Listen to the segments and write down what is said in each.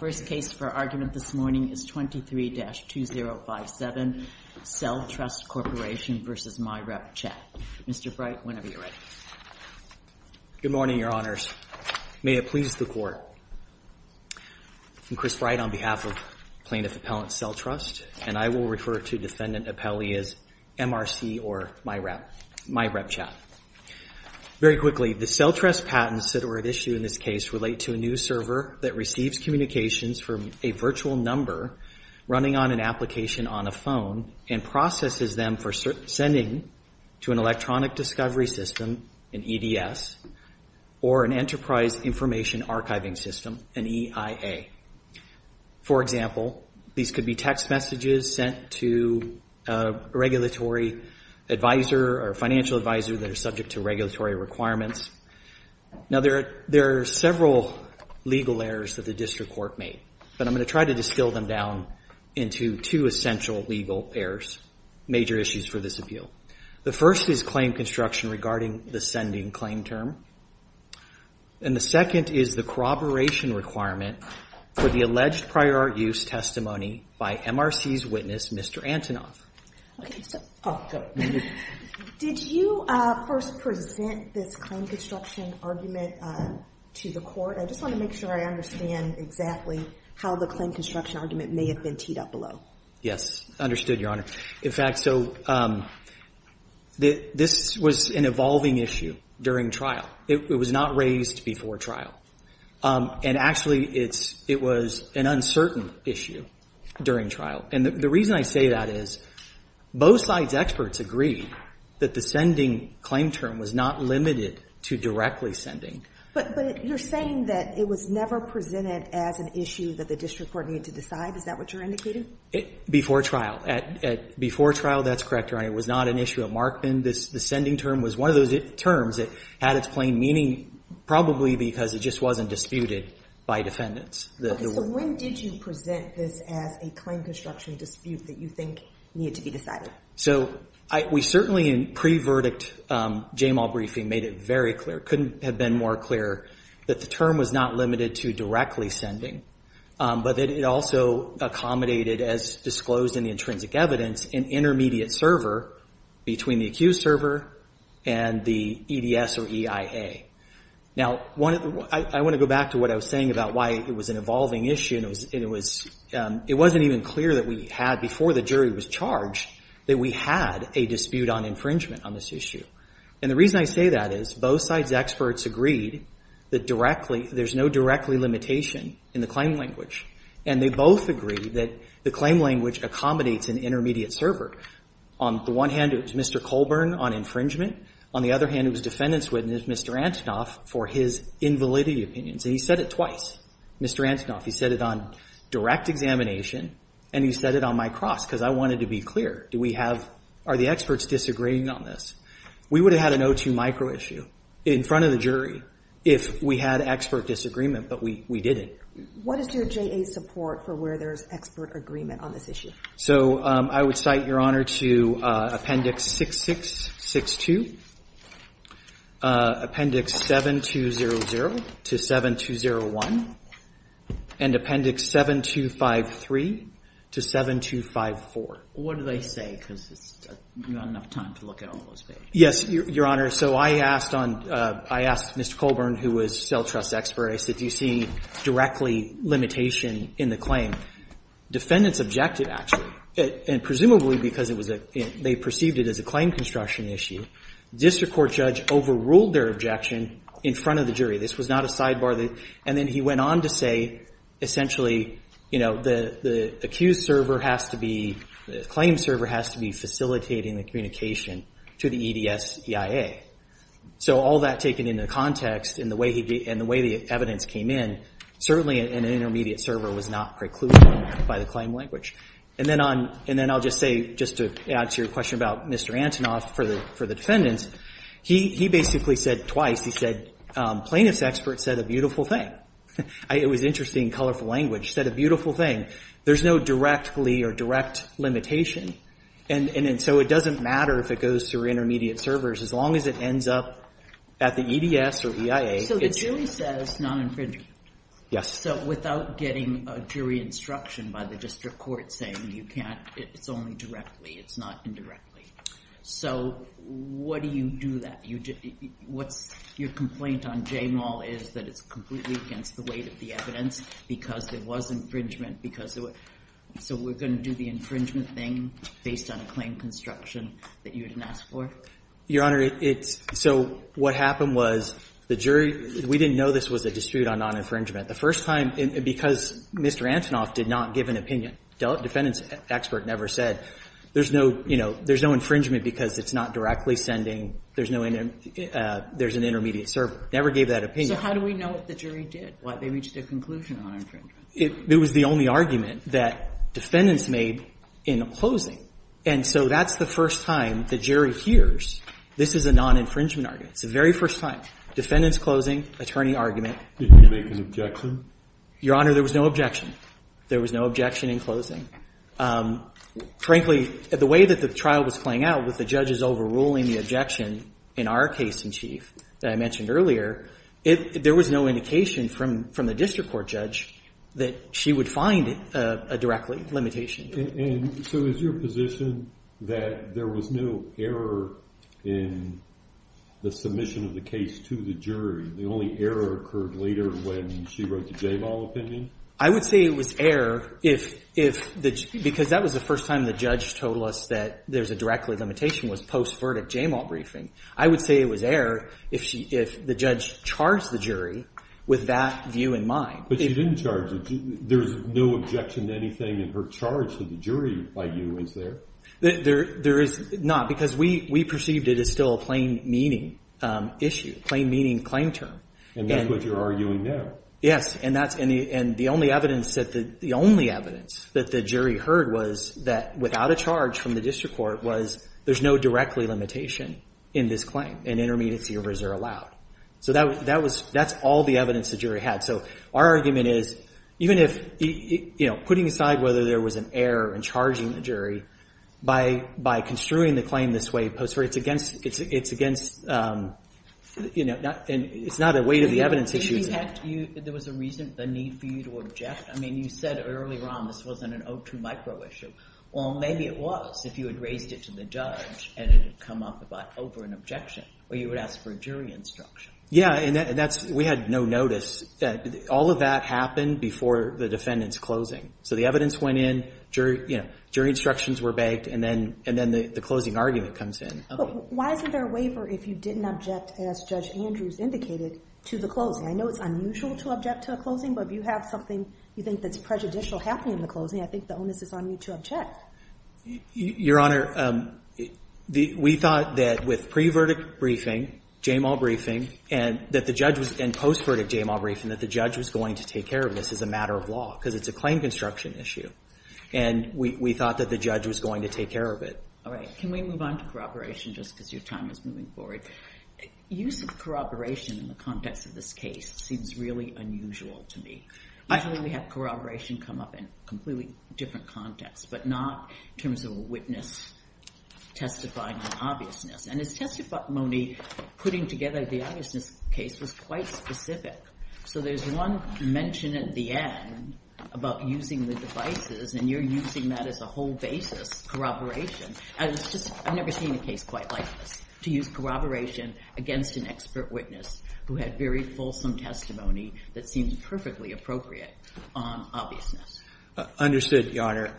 The first case for argument this morning is 23-2057, CellTrust Corp. v. MyRepChat. Mr. Bright, whenever you're ready. Good morning, Your Honors. May it please the Court. I'm Chris Bright on behalf of Plaintiff Appellant CellTrust, and I will refer to Defendant Appellee as MRC or MyRepChat. Very quickly, the CellTrust patents that are at issue in this case relate to a new server that receives communications from a virtual number running on an application on a phone and processes them for sending to an electronic discovery system, an EDS, or an enterprise information archiving system, an EIA. For example, these could be text messages sent to a regulatory advisor or financial advisor that are subject to regulatory requirements. Now, there are several legal errors that the District Court made, but I'm going to try to distill them down into two essential legal errors, major issues for this appeal. The first is claim construction regarding the sending claim term, and the second is the corroboration requirement for the alleged prior use testimony by MRC's witness, Mr. Antonoff. Did you first present this claim construction argument to the Court? I just want to make sure I understand exactly how the claim construction argument may have been teed up below. Yes, understood, Your Honor. In fact, so this was an evolving issue during trial. It was not raised before trial. And actually, it was an uncertain issue during trial. And the reason I say that is both sides' experts agreed that the sending claim term was not limited to directly sending. But you're saying that it was never presented as an issue that the District Court needed to decide? Is that what you're indicating? Before trial. Before trial, that's correct, Your Honor. It was not an issue at Markman. The sending term was one of those terms that had its plain meaning, probably because it just wasn't disputed by defendants. Okay, so when did you present this as a claim construction dispute that you think needed to be decided? So we certainly in pre-verdict JMAW briefing made it very clear, couldn't have been more clear, that the term was not limited to directly sending. But that it also accommodated, as disclosed in the intrinsic evidence, an intermediate server between the accused server and the EDS or EIA. Now, I want to go back to what I was saying about why it was an evolving issue. And it wasn't even clear that we had, before the jury was charged, that we had a dispute on infringement on this issue. And the reason I say that is both sides' experts agreed that there's no directly limitation in the claim language. And they both agreed that the claim language accommodates an intermediate server. On the one hand, it was Mr. Colburn on infringement. On the other hand, it was defendant's witness, Mr. Antonoff, for his invalidity opinions. And he said it twice. Mr. Antonoff, he said it on direct examination. And he said it on my cross, because I wanted to be clear. Do we have, are the experts disagreeing on this? We would have had an O2 micro issue in front of the jury if we had expert disagreement. But we didn't. What is your JA's support for where there's expert agreement on this issue? So I would cite, Your Honor, to Appendix 6662, Appendix 7200 to 7201, and Appendix 7253 to 7254. What do they say? Because you don't have enough time to look at all those pages. Yes, Your Honor. So I asked on, I asked Mr. Colburn, who was cell trust expert. I said, do you see directly limitation in the claim? Defendant's objective, actually, and presumably because it was a, they perceived it as a claim construction issue, district court judge overruled their objection in front of the jury. This was not a sidebar. And then he went on to say, essentially, you know, the accused server has to be, the claim server has to be facilitating the communication to the EDS EIA. So all that taken into context and the way he, and the way the evidence came in, certainly an intermediate server was not precluded by the claim language. And then on, and then I'll just say, just to add to your question about Mr. Antonoff for the defendants, he basically said twice, he said, plaintiff's expert said a beautiful thing. It was interesting, colorful language. He said a beautiful thing. There's no directly or direct limitation. And so it doesn't matter if it goes through intermediate servers. As long as it ends up at the EDS or EIA. So the jury says non-infringement. Yes. So without getting a jury instruction by the district court saying you can't, it's only directly, it's not indirectly. So what do you do that? You, what's your complaint on J Maul is that it's completely against the weight of the evidence because it was infringement because of it. So we're going to do the infringement thing based on a claim construction that you didn't ask for? Your Honor, it's, so what happened was the jury, we didn't know this was a dispute on non-infringement. The first time, because Mr. Antonoff did not give an opinion, defendant's expert never said, there's no, you know, there's no infringement because it's not directly sending, there's no, there's an intermediate server, never gave that opinion. So how do we know what the jury did, why they reached a conclusion on infringement? It was the only argument that defendants made in closing. And so that's the first time the jury hears this is a non-infringement argument. It's the very first time. Defendants closing, attorney argument. Did you make an objection? Your Honor, there was no objection. There was no objection in closing. Frankly, the way that the trial was playing out with the judges overruling the objection in our case in chief that I mentioned earlier, there was no indication from the district court judge that she would find a direct limitation. And so is your position that there was no error in the submission of the case to the jury? The only error occurred later when she wrote the J-ball opinion? I would say it was error because that was the first time the judge told us that there's a direct limitation was post-verdict J-ball briefing. I would say it was error if the judge charged the jury with that view in mind. But she didn't charge the jury. There's no objection to anything in her charge to the jury by you, is there? There is not because we perceived it as still a plain meaning issue, plain meaning claim term. And that's what you're arguing now? Yes. And the only evidence that the jury heard was that without a charge from the district court was there's no directly limitation in this claim and intermediate servers are allowed. So that's all the evidence the jury had. So our argument is even if putting aside whether there was an error in charging the jury, by construing the claim this way post-verdict, it's not a weight of the need for you to object. I mean, you said earlier on this wasn't an 0-2 micro issue. Well, maybe it was if you had raised it to the judge and it had come up over an objection where you would ask for a jury instruction. Yeah, and we had no notice. All of that happened before the defendant's closing. So the evidence went in, jury instructions were begged, and then the closing argument comes in. But why is there a waiver if you didn't object, as Judge Andrews indicated, to the closing? I know it's unusual to object to a closing, but if you have something you think that's prejudicial happening in the closing, I think the onus is on you to object. Your Honor, we thought that with pre-verdict briefing, JMAW briefing, and post-verdict JMAW briefing, that the judge was going to take care of this as a matter of law because it's a claim construction issue. And we thought that the judge was going to take care of it. All right. Can we move on to corroboration just because your time is moving forward? Use of corroboration in the context of this case seems really unusual to me. Usually we have corroboration come up in completely different contexts, but not in terms of a witness testifying in obviousness. And as testified, Monique, putting together the obviousness case was quite specific. So there's one mention at the end about using the devices, and you're using that as a whole basis, corroboration. I've never seen a case quite like this, to use corroboration against an expert witness who had very fulsome testimony that seems perfectly appropriate on obviousness. Understood, Your Honor.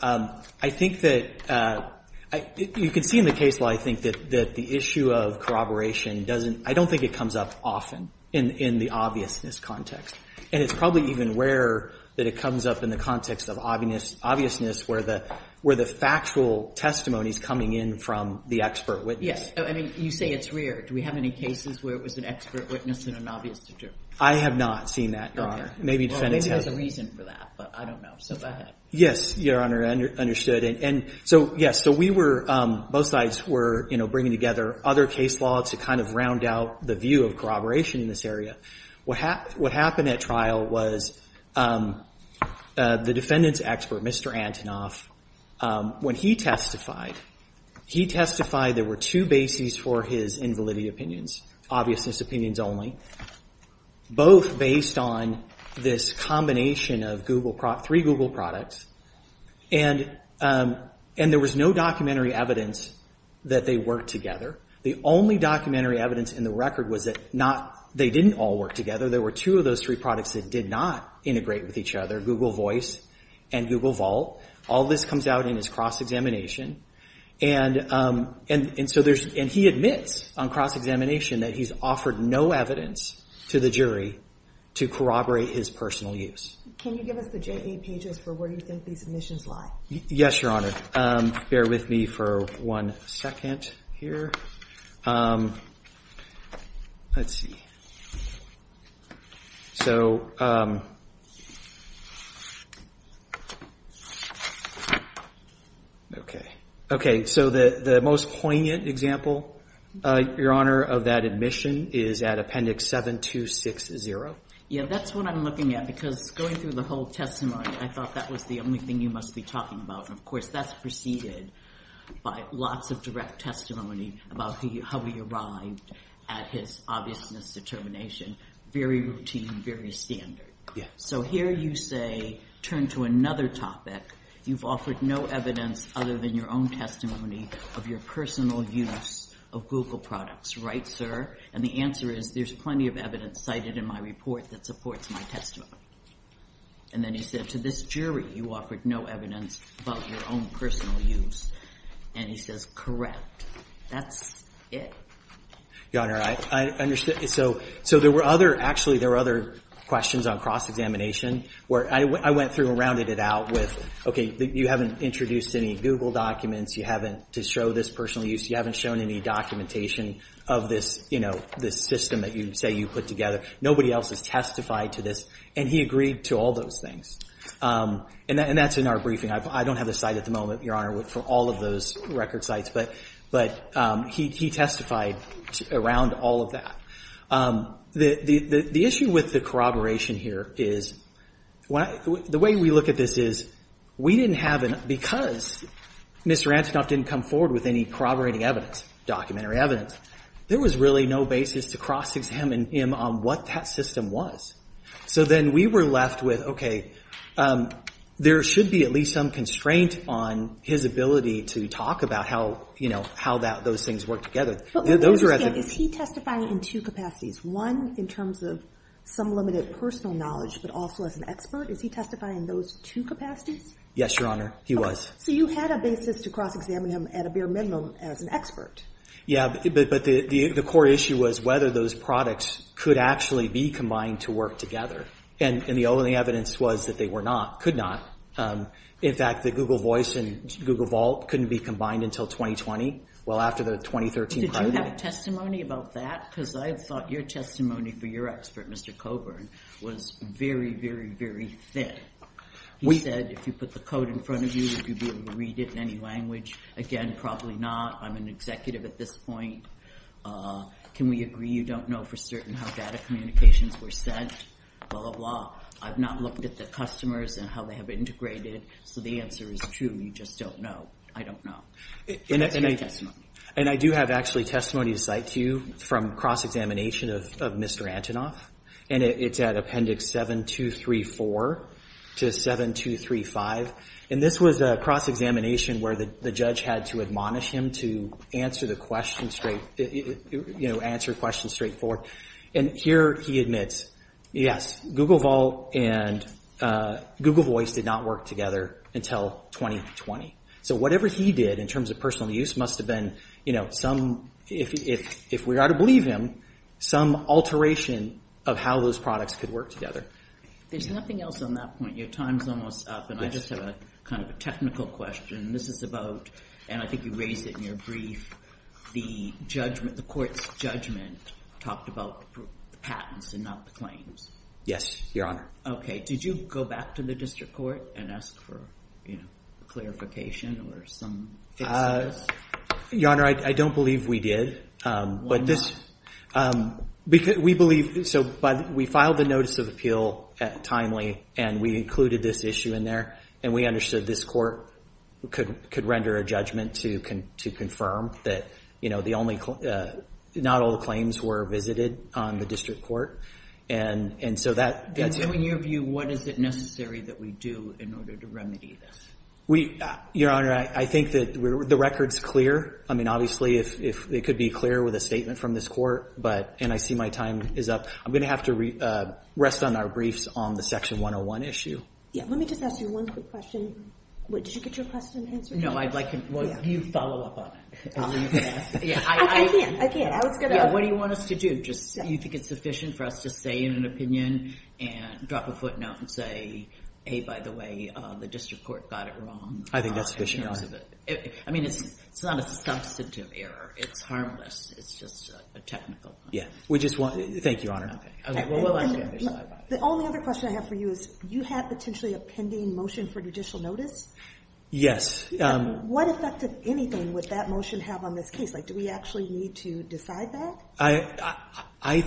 I think that you can see in the case law, I think, that the issue of corroboration doesn't – I don't think it comes up often in the obviousness context. And it's probably even rarer that it comes up in the context of obviousness where the factual testimony is coming in from the expert witness. Yes. I mean, you say it's rare. Do we have any cases where it was an expert witness in an obvious situation? I have not seen that, Your Honor. Okay. Well, maybe there's a reason for that, but I don't know. So go ahead. Yes, Your Honor. Understood. And so, yes. So we were – both sides were bringing together other case laws to kind of round out the view of corroboration in this area. What happened at trial was the defendant's expert, Mr. Antonoff, when he testified, he testified there were two bases for his invalidity opinions, obviousness opinions only, both based on this combination of Google – three Google products. And there was no documentary evidence that they worked together. The only documentary evidence in the record was that not – they didn't all work together. There were two of those three products that did not integrate with each other, Google Voice and Google Vault. All this comes out in his cross-examination. And so there's – and he admits on cross-examination that he's offered no evidence to the jury to corroborate his personal use. Can you give us the J-8 pages for where you think these omissions lie? Yes, Your Honor. Bear with me for one second here. Let's see. So – okay. Okay, so the most poignant example, Your Honor, of that admission is at Appendix 7260. Yeah, that's what I'm looking at because going through the whole testimony, I thought that was the only thing you must be talking about. And, of course, that's preceded by lots of direct testimony about how he arrived at his obviousness determination. Very routine, very standard. Yeah. So here you say, turn to another topic. You've offered no evidence other than your own testimony of your personal use of Google products, right, sir? And the answer is, there's plenty of evidence cited in my report that supports my testimony. And then he said, to this jury, you offered no evidence about your own personal use. And he says, correct. That's it. Your Honor, I understand. So there were other – actually, there were other questions on cross-examination where I went through and rounded it out with, okay, you haven't introduced any Google documents. You haven't – to show this personal use, you haven't shown any documentation of this, you know, this system that you say you put together. Nobody else has testified to this. And he agreed to all those things. And that's in our briefing. I don't have the site at the moment, Your Honor, for all of those record sites. But he testified around all of that. The issue with the corroboration here is the way we look at this is we didn't have – because Mr. Antonoff didn't come forward with any corroborating evidence, documentary evidence, there was really no basis to cross-examine him on what that system was. So then we were left with, okay, there should be at least some constraint on his ability to talk about how, you know, how those things work together. Is he testifying in two capacities, one in terms of some limited personal knowledge but also as an expert? Is he testifying in those two capacities? Yes, Your Honor. He was. So you had a basis to cross-examine him at a bare minimum as an expert. Yeah, but the core issue was whether those products could actually be combined to work together. And the only evidence was that they were not, could not. In fact, the Google Voice and Google Vault couldn't be combined until 2020. Well, after the 2013 crisis. Did you have testimony about that? Because I thought your testimony for your expert, Mr. Coburn, was very, very, very thick. He said, if you put the code in front of you, would you be able to read it in any language? Again, probably not. I'm an executive at this point. Can we agree you don't know for certain how data communications were sent? Blah, blah, blah. I've not looked at the customers and how they have integrated. So the answer is true. You just don't know. I don't know. But that's my testimony. And I do have actually testimony to cite to you from cross-examination of Mr. Antonoff. And it's at Appendix 7234 to 7235. And this was a cross-examination where the judge had to admonish him to answer questions straightforward. And here he admits, yes, Google Vault and Google Voice did not work together until 2020. So whatever he did in terms of personal use must have been some, if we are to believe him, some alteration of how those products could work together. There's nothing else on that point. Your time's almost up. And I just have a kind of a technical question. And this is about, and I think you raised it in your brief, the court's judgment talked about patents and not the claims. Yes, Your Honor. OK. Did you go back to the district court and ask for clarification or some fix to that? Your Honor, I don't believe we did. Why not? We filed the notice of appeal timely, and we included this issue in there. And we understood this court could render a judgment to confirm that not all the claims were visited on the district court. And so that's it. In your view, what is it necessary that we do in order to remedy this? Your Honor, I think that the record's clear. I mean, obviously, it could be clear with a statement from this court, and I see my time is up. I'm going to have to rest on our briefs on the Section 101 issue. Let me just ask you one quick question. Did you get your question answered? No, I'd like you to follow up on it. I can't. What do you want us to do? Do you think it's sufficient for us to say in an opinion and drop a footnote and say, hey, by the way, the district court got it wrong? I think that's sufficient, Your Honor. I mean, it's not a substantive error. It's harmless. It's just a technical one. Thank you, Your Honor. The only other question I have for you is you have potentially a pending motion for judicial notice? Yes. What effect of anything would that motion have on this case? Do we actually need to decide that? I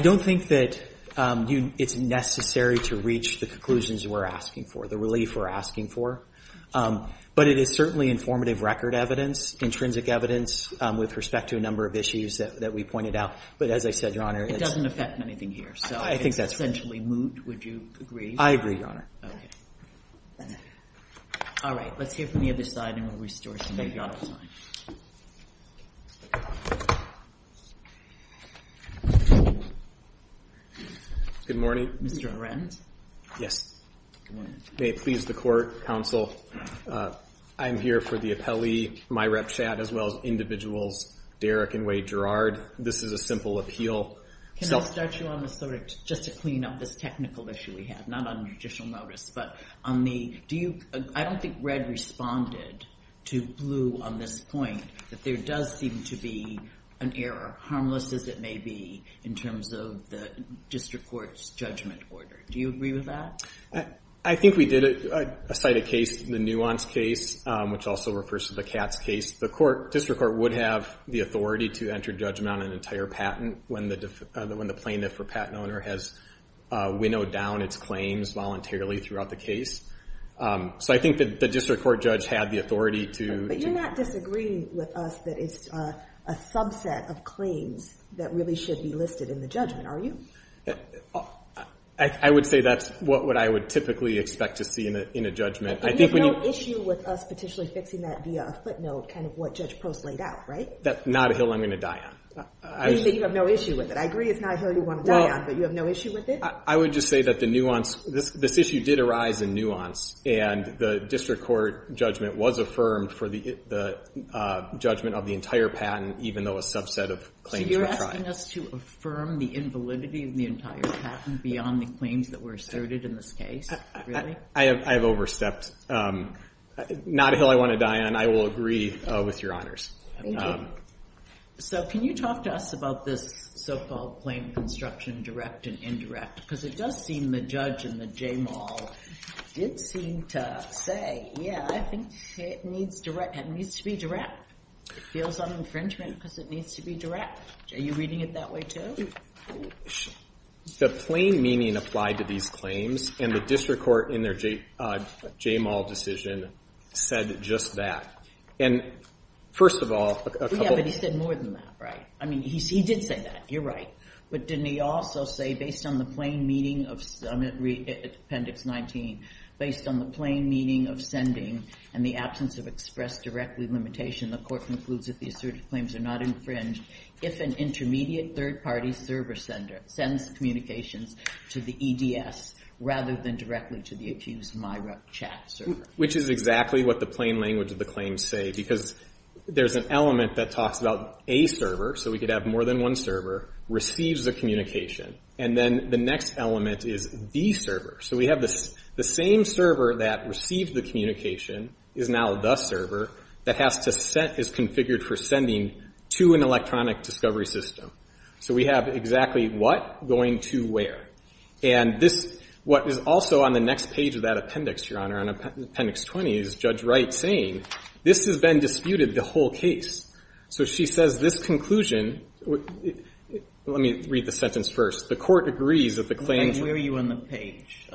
don't think that it's necessary to reach the conclusions we're asking for, the relief we're asking for. But it is certainly informative record evidence, intrinsic evidence with respect to a number of issues that we pointed out. But as I said, Your Honor, it's— It doesn't affect anything here, so it's essentially moot. Would you agree? I agree, Your Honor. Okay. All right. Let's hear from the other side, and we'll restore some of the audit time. Good morning. Mr. Arendt? Yes. Good morning. May it please the court, counsel, I'm here for the appellee, my rep, Chad, as well as individuals Derrick and Wade Gerard. This is a simple appeal. Can I start you on this, just to clean up this technical issue we have, not on judicial notice, but on the— to Blu on this point, that there does seem to be an error, harmless as it may be, in terms of the district court's judgment order. Do you agree with that? I think we did cite a case, the Nuance case, which also refers to the Katz case. The district court would have the authority to enter judgment on an entire patent when the plaintiff or patent owner has winnowed down its claims voluntarily throughout the case. So I think that the district court judge had the authority to— But you're not disagreeing with us that it's a subset of claims that really should be listed in the judgment, are you? I would say that's what I would typically expect to see in a judgment. I think when you— But you have no issue with us potentially fixing that via a footnote, kind of what Judge Post laid out, right? That's not a hill I'm going to die on. You have no issue with it. I agree it's not a hill you want to die on, but you have no issue with it? I would just say that the Nuance—this issue did arise in Nuance, and the district court judgment was affirmed for the judgment of the entire patent, even though a subset of claims were tried. So you're asking us to affirm the invalidity of the entire patent beyond the claims that were asserted in this case, really? I have overstepped. Not a hill I want to die on. I will agree with your honors. Thank you. So can you talk to us about this so-called plain construction, direct and indirect? Because it does seem the judge in the JMAL did seem to say, yeah, I think it needs to be direct. It feels on infringement because it needs to be direct. Are you reading it that way, too? The plain meaning applied to these claims, and the district court in their JMAL decision said just that. And first of all— Yeah, but he said more than that, right? I mean, he did say that. You're right. But didn't he also say, based on the plain meaning of—I'm going to read Appendix 19. Based on the plain meaning of sending and the absence of express directly limitation, the court concludes that the asserted claims are not infringed if an intermediate third-party server sender sends communications to the EDS rather than directly to the accused MIRA chat server. Which is exactly what the plain language of the claims say, because there's an element that talks about a server, so we could have more than one server, receives the communication. And then the next element is the server. So we have the same server that received the communication is now the server that is configured for sending to an electronic discovery system. So we have exactly what going to where. And this—what is also on the next page of that appendix, Your Honor, on Appendix 20, is Judge Wright saying, this has been disputed the whole case. So she says this conclusion—let me read the sentence first. The court agrees that the claims— Where are you on the page?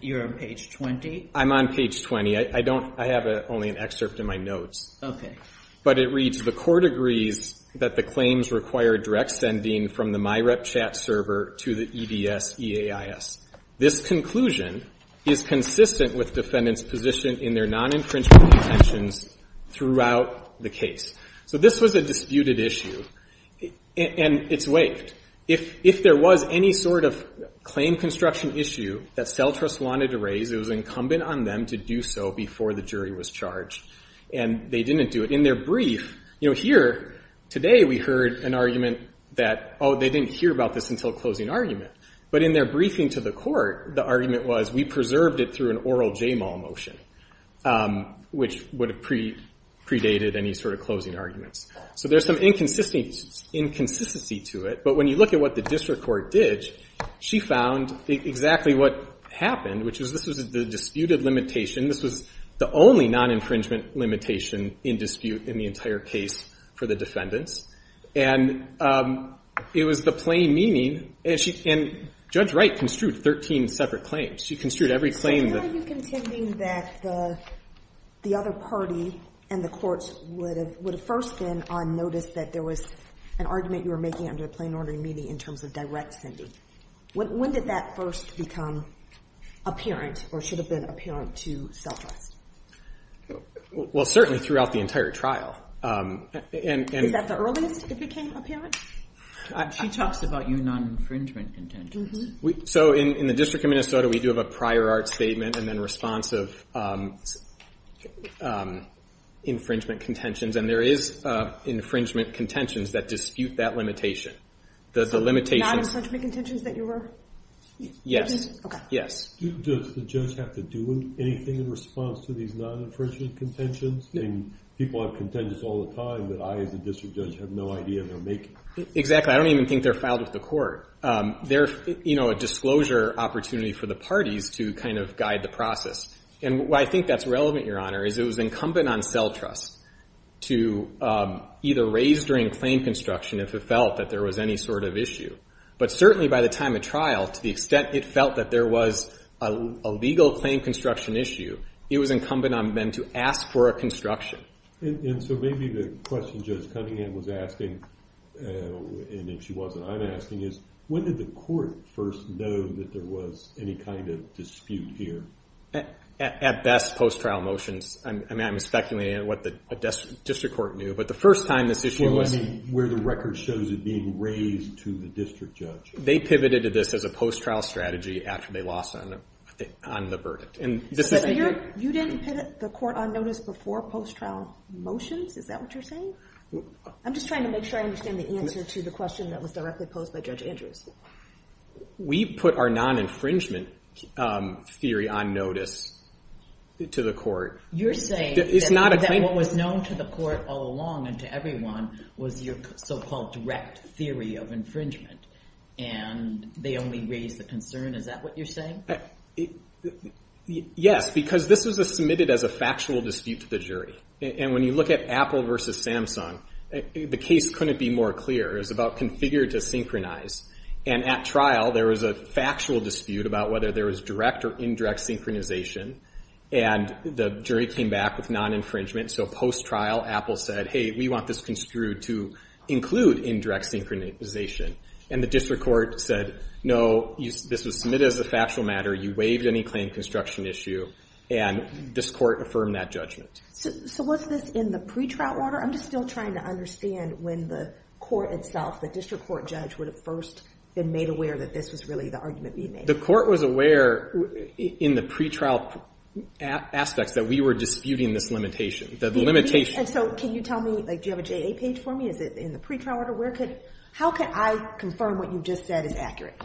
You're on page 20? I'm on page 20. I don't—I have only an excerpt in my notes. Okay. But it reads, the court agrees that the claims require direct sending from the MIRA chat server to the EDS EAIS. This conclusion is consistent with defendant's position in their non-infringement intentions throughout the case. So this was a disputed issue. And it's waived. If there was any sort of claim construction issue that CELTRUST wanted to raise, it was incumbent on them to do so before the jury was charged. And they didn't do it. In their brief—you know, here, today, we heard an argument that, oh, they didn't hear about this until closing argument. But in their briefing to the court, the argument was, we preserved it through an oral JMAL motion, which would have predated any sort of closing arguments. So there's some inconsistency to it. But when you look at what the district court did, she found exactly what happened, which is this was the disputed limitation. This was the only non-infringement limitation in dispute in the entire case for the defendants. And it was the plain meaning. And Judge Wright construed 13 separate claims. She construed every claim that— So can I be contending that the other party and the courts would have first been on notice that there was an argument you were making under the plain ordering meaning in terms of direct sending? When did that first become apparent or should have been apparent to self-trust? Well, certainly throughout the entire trial. Is that the earliest it became apparent? She talks about your non-infringement contentions. So in the District of Minnesota, we do have a prior art statement and then responsive infringement contentions. And there is infringement contentions that dispute that limitation. The non-infringement contentions that you were— Yes. Okay. Yes. Does the judge have to do anything in response to these non-infringement contentions? I mean, people have contentions all the time that I as a district judge have no idea they're making. Exactly. I don't even think they're filed with the court. They're a disclosure opportunity for the parties to kind of guide the process. And why I think that's relevant, Your Honor, is it was incumbent on self-trust to either raise during claim construction if it felt that there was any sort of issue. But certainly by the time of trial, to the extent it felt that there was a legal claim construction issue, it was incumbent on them to ask for a construction. And so maybe the question Judge Cunningham was asking, and if she wasn't, I'm asking, is when did the court first know that there was any kind of dispute here? At best, post-trial motions. I mean, I'm speculating on what the district court knew. But the first time this issue was— Well, I mean, where the record shows it being raised to the district judge. They pivoted to this as a post-trial strategy after they lost on the verdict. You didn't pivot the court on notice before post-trial motions? Is that what you're saying? I'm just trying to make sure I understand the answer to the question that was directly posed by Judge Andrews. We put our non-infringement theory on notice to the court. You're saying that what was known to the court all along and to everyone was your so-called direct theory of infringement, and they only raised the concern? Is that what you're saying? Yes, because this was submitted as a factual dispute to the jury. And when you look at Apple versus Samsung, the case couldn't be more clear. It was about configured to synchronize. And at trial, there was a factual dispute about whether there was direct or indirect synchronization. And the jury came back with non-infringement. So post-trial, Apple said, hey, we want this construed to include indirect synchronization. And the district court said, no, this was submitted as a factual matter. You waived any claim construction issue, and this court affirmed that judgment. So was this in the pretrial order? I'm just still trying to understand when the court itself, the district court judge, would have first been made aware that this was really the argument being made. The court was aware in the pretrial aspects that we were disputing this limitation. And so can you tell me, like, do you have a JA page for me? Is it in the pretrial order? How can I confirm what you just said is accurate?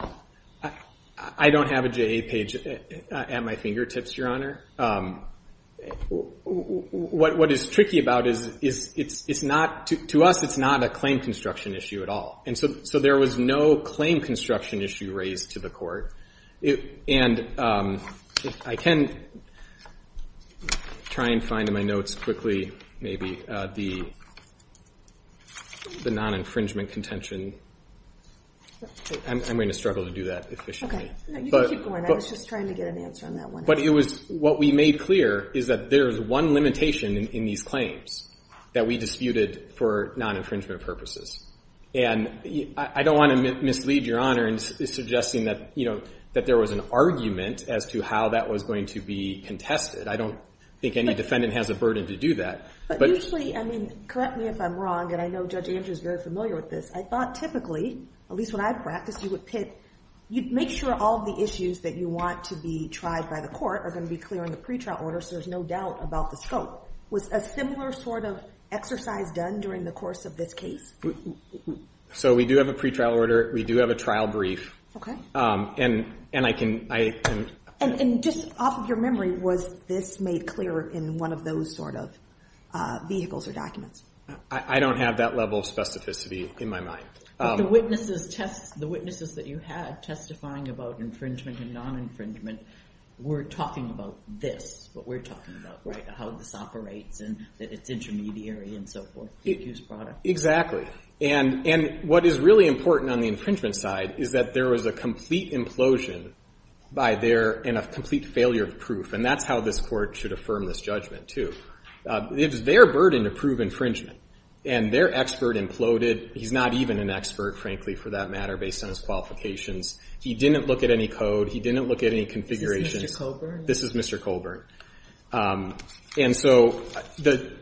I don't have a JA page at my fingertips, Your Honor. What is tricky about it is it's not, to us, it's not a claim construction issue at all. And so there was no claim construction issue raised to the court. And I can try and find in my notes quickly maybe the non-infringement contention. I'm going to struggle to do that efficiently. You can keep going. I was just trying to get an answer on that one. But what we made clear is that there is one limitation in these claims that we disputed for non-infringement purposes. And I don't want to mislead Your Honor in suggesting that there was an argument as to how that was going to be contested. I don't think any defendant has a burden to do that. But usually, I mean, correct me if I'm wrong, and I know Judge Andrews is very familiar with this. I thought typically, at least when I practiced, you would pick, you'd make sure all the issues that you want to be tried by the court are going to be clear in the pretrial order so there's no doubt about the scope. Was a similar sort of exercise done during the course of this case? So we do have a pretrial order. We do have a trial brief. And I can— And just off of your memory, was this made clear in one of those sort of vehicles or documents? I don't have that level of specificity in my mind. But the witnesses test—the witnesses that you had testifying about infringement and non-infringement were talking about this. What we're talking about, right? How this operates and that it's intermediary and so forth. Exactly. And what is really important on the infringement side is that there was a complete implosion by their—and a complete failure of proof. And that's how this court should affirm this judgment, too. It was their burden to prove infringement. And their expert imploded. He's not even an expert, frankly, for that matter, based on his qualifications. He didn't look at any code. He didn't look at any configurations. Is this Mr. Colburn? This is Mr. Colburn. And so to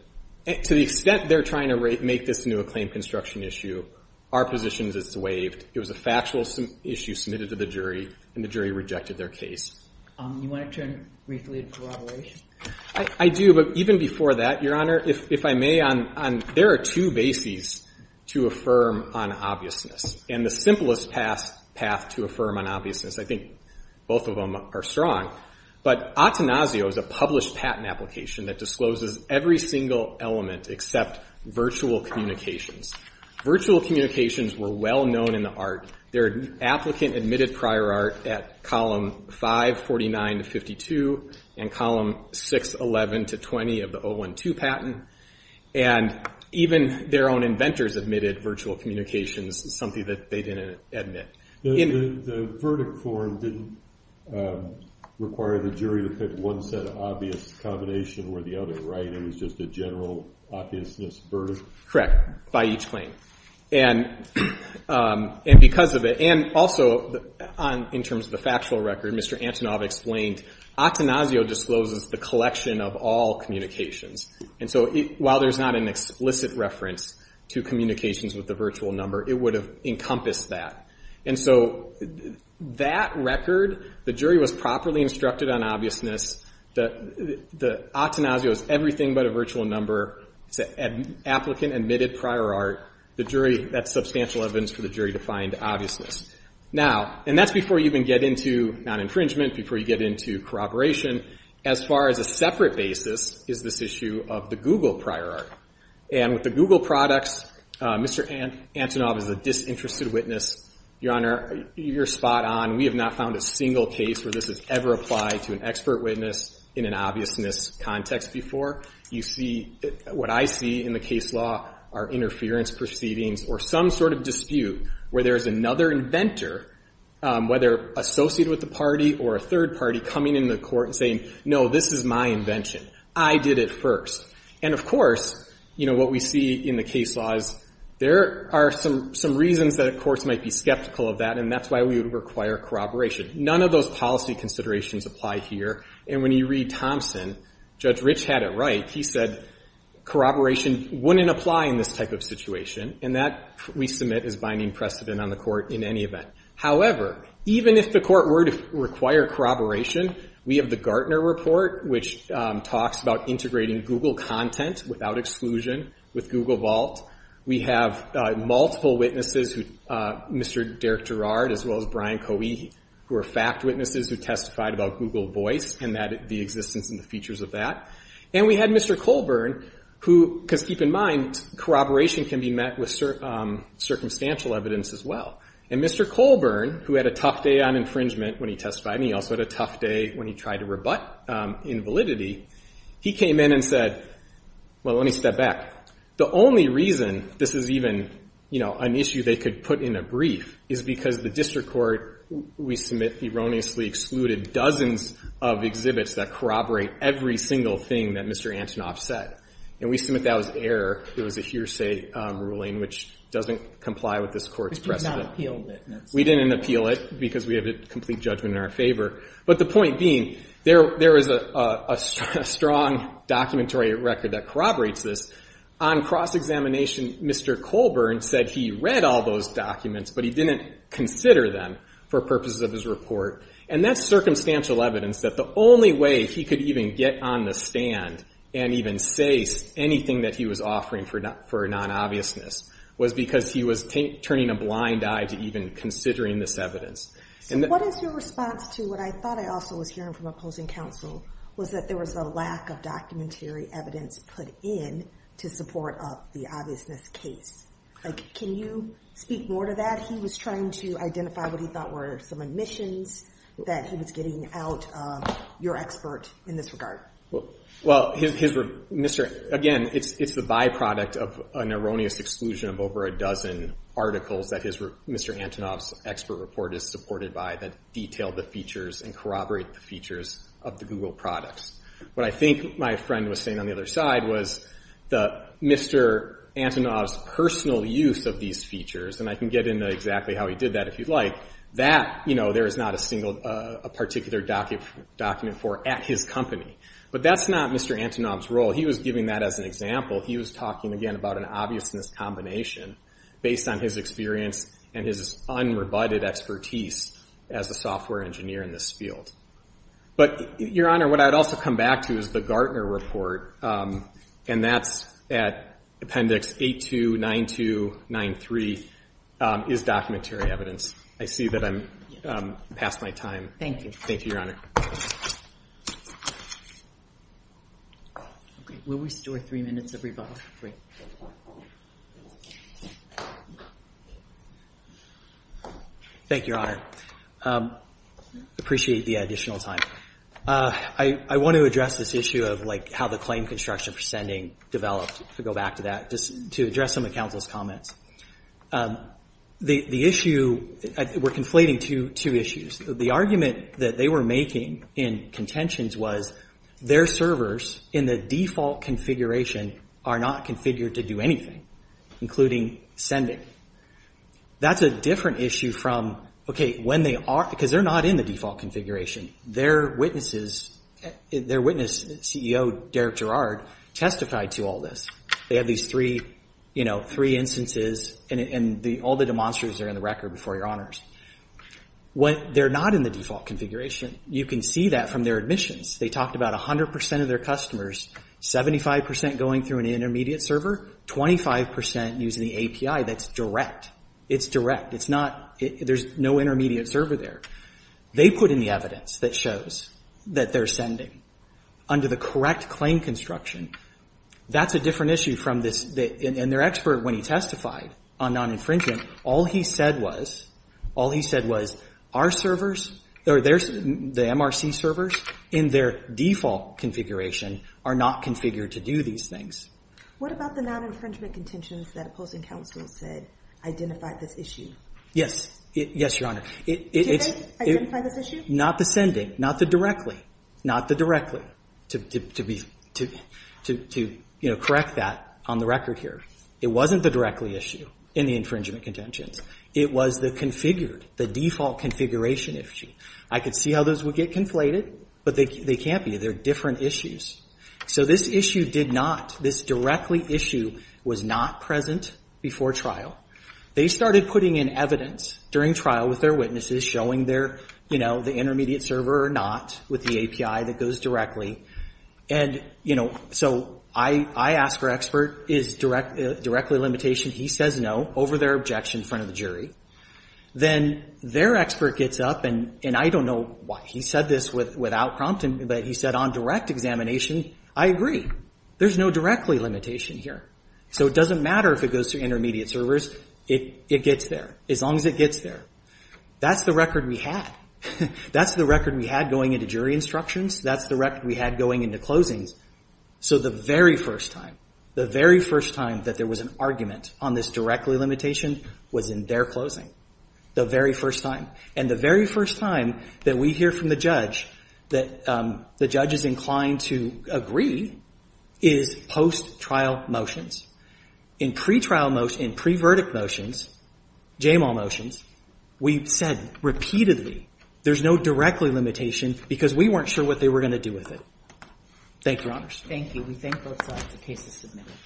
the extent they're trying to make this into a claim construction issue, our position is it's waived. It was a factual issue submitted to the jury and the jury rejected their case. You want to turn briefly to corroboration? I do. But even before that, Your Honor, if I may, there are two bases to affirm on obviousness. And the simplest path to affirm on obviousness, I think both of them are strong, but Attenasio is a published patent application that discloses every single element except virtual communications. Virtual communications were well known in the art. Their applicant admitted prior art at column 549 to 52 and column 611 to 20 of the 012 patent. And even their own inventors admitted virtual communications, something that they didn't admit. The verdict form didn't require the jury to pick one set of obvious combination or the other, right? It was just a general obviousness verdict? Correct, by each claim. And because of it, and also in terms of the factual record, Mr. Antonov explained, Attenasio discloses the collection of all communications. And so while there's not an explicit reference to communications with the virtual number, it would have encompassed that. And so that record, the jury was properly instructed on obviousness, that Attenasio is everything but a virtual number. It's an applicant admitted prior art. The jury, that's substantial evidence for the jury to find obviousness. Now, and that's before you even get into non-infringement, before you get into corroboration. As far as a separate basis is this issue of the Google prior art. And with the Google products, Mr. Antonov is a disinterested witness. Your Honor, you're spot on. We have not found a single case where this has ever applied to an expert witness in an obviousness context before. You see, what I see in the case law are interference proceedings or some sort of dispute where there is another inventor, whether associated with the party or a third party, coming into court and saying, no, this is my invention. I did it first. And of course, you know, what we see in the case law is there are some reasons that courts might be skeptical of that. And that's why we would require corroboration. None of those policy considerations apply here. And when you read Thompson, Judge Rich had it right. He said corroboration wouldn't apply in this type of situation. And that, we submit, is binding precedent on the court in any event. However, even if the court were to require corroboration, we have the Gartner Report, which talks about integrating Google content without exclusion with Google Vault. We have multiple witnesses, Mr. Derek Gerrard, as well as Brian Coey, who are fact witnesses who testified about Google Voice and the existence and the features of that. And we had Mr. Colburn, who, because keep in mind, corroboration can be met with circumstantial evidence as well. And Mr. Colburn, who had a tough day on infringement when he testified, and he also had a tough day when he tried to rebut invalidity, he came in and said, well, let me step back. The only reason this is even, you know, an issue they could put in a brief is because the district court, we submit, erroneously excluded dozens of exhibits that corroborate every single thing that Mr. Antonoff said. And we submit that was error. It was a hearsay ruling, which doesn't comply with this court's precedent. We did not appeal it. We didn't appeal it because we have a complete judgment in our favor. But the point being, there is a strong documentary record that corroborates this. On cross-examination, Mr. Colburn said he read all those documents, but he didn't consider them for purposes of his report. And that's circumstantial evidence that the only way he could even get on the stand and even say anything that he was offering for non-obviousness was because he was turning a blind eye to even considering this evidence. So what is your response to what I thought I also was hearing from opposing counsel, was that there was a lack of documentary evidence put in to support up the obviousness case? Like, can you speak more to that? He was trying to identify what he thought were some omissions that he was getting out of your expert in this regard. Well, again, it's the byproduct of an erroneous exclusion of over a dozen articles that Mr. Antonoff's expert report is supported by that detail the features and corroborate the features of the Google products. What I think my friend was saying on the other side was that Mr. Antonoff's personal use of these features, and I can get into exactly how he did that if you'd like, that there is not a particular document for at his company. But that's not Mr. Antonoff's role. He was giving that as an example. He was talking, again, about an obviousness combination based on his experience and his unrebutted expertise as a software engineer in this field. But, Your Honor, what I'd also come back to is the Gartner report, and that's at Appendix 829293, is documentary evidence. I see that I'm past my time. Thank you, Your Honor. Will we store three minutes of rebuttal? Great. Thank you, Your Honor. Appreciate the additional time. I want to address this issue of, like, how the claim construction for sending developed, to go back to that, just to address some of the counsel's comments. The issue, we're conflating two issues. The argument that they were making in contentions was, their servers in the default configuration are not configured to do anything, including sending. That's a different issue from, okay, when they are, because they're not in the default configuration. Their witness, CEO Derek Gerrard, testified to all this. They have these three instances, and all the demonstrators are in the record before Your Honors. They're not in the default configuration. You can see that from their admissions. They talked about 100% of their customers, 75% going through an intermediate server, 25% using the API. That's direct. It's direct. It's not, there's no intermediate server there. They put in the evidence that shows that they're sending. Under the correct claim construction. That's a different issue from this, and their expert when he testified on non-infringement, all he said was, all he said was, our servers, the MRC servers in their default configuration, are not configured to do these things. What about the non-infringement contentions that opposing counsel said identified this issue? Yes, Your Honor. Did they identify this issue? Not the sending. Not the directly. To correct that on the record here. It wasn't the directly issue in the infringement contentions. It was the configured, the default configuration issue. I could see how those would get conflated, but they can't be. They're different issues. So this issue did not, this directly issue, was not present before trial. They started putting in evidence during trial with their witnesses, showing their, you know, the intermediate server or not, with the API that goes directly. And, you know, so I ask our expert, is directly limitation, he says no, over their objection in front of the jury. Then their expert gets up, and I don't know why. He said this without prompting me, but he said on direct examination, I agree. There's no directly limitation here. So it doesn't matter if it goes to intermediate servers. It gets there. As long as it gets there. That's the record we had. That's the record we had going into jury instructions. That's the record we had going into closings. So the very first time, the very first time that there was an argument on this directly limitation was in their closing. The very first time. And the very first time that we hear from the judge that the judge is inclined to agree is post-trial motions. In pretrial motions, in pre-verdict motions, JMAW motions, we said repeatedly there's no directly limitation because we weren't sure what they were going to do with it. Thank you, Your Honors. Thank you. We thank both sides. The case is submitted.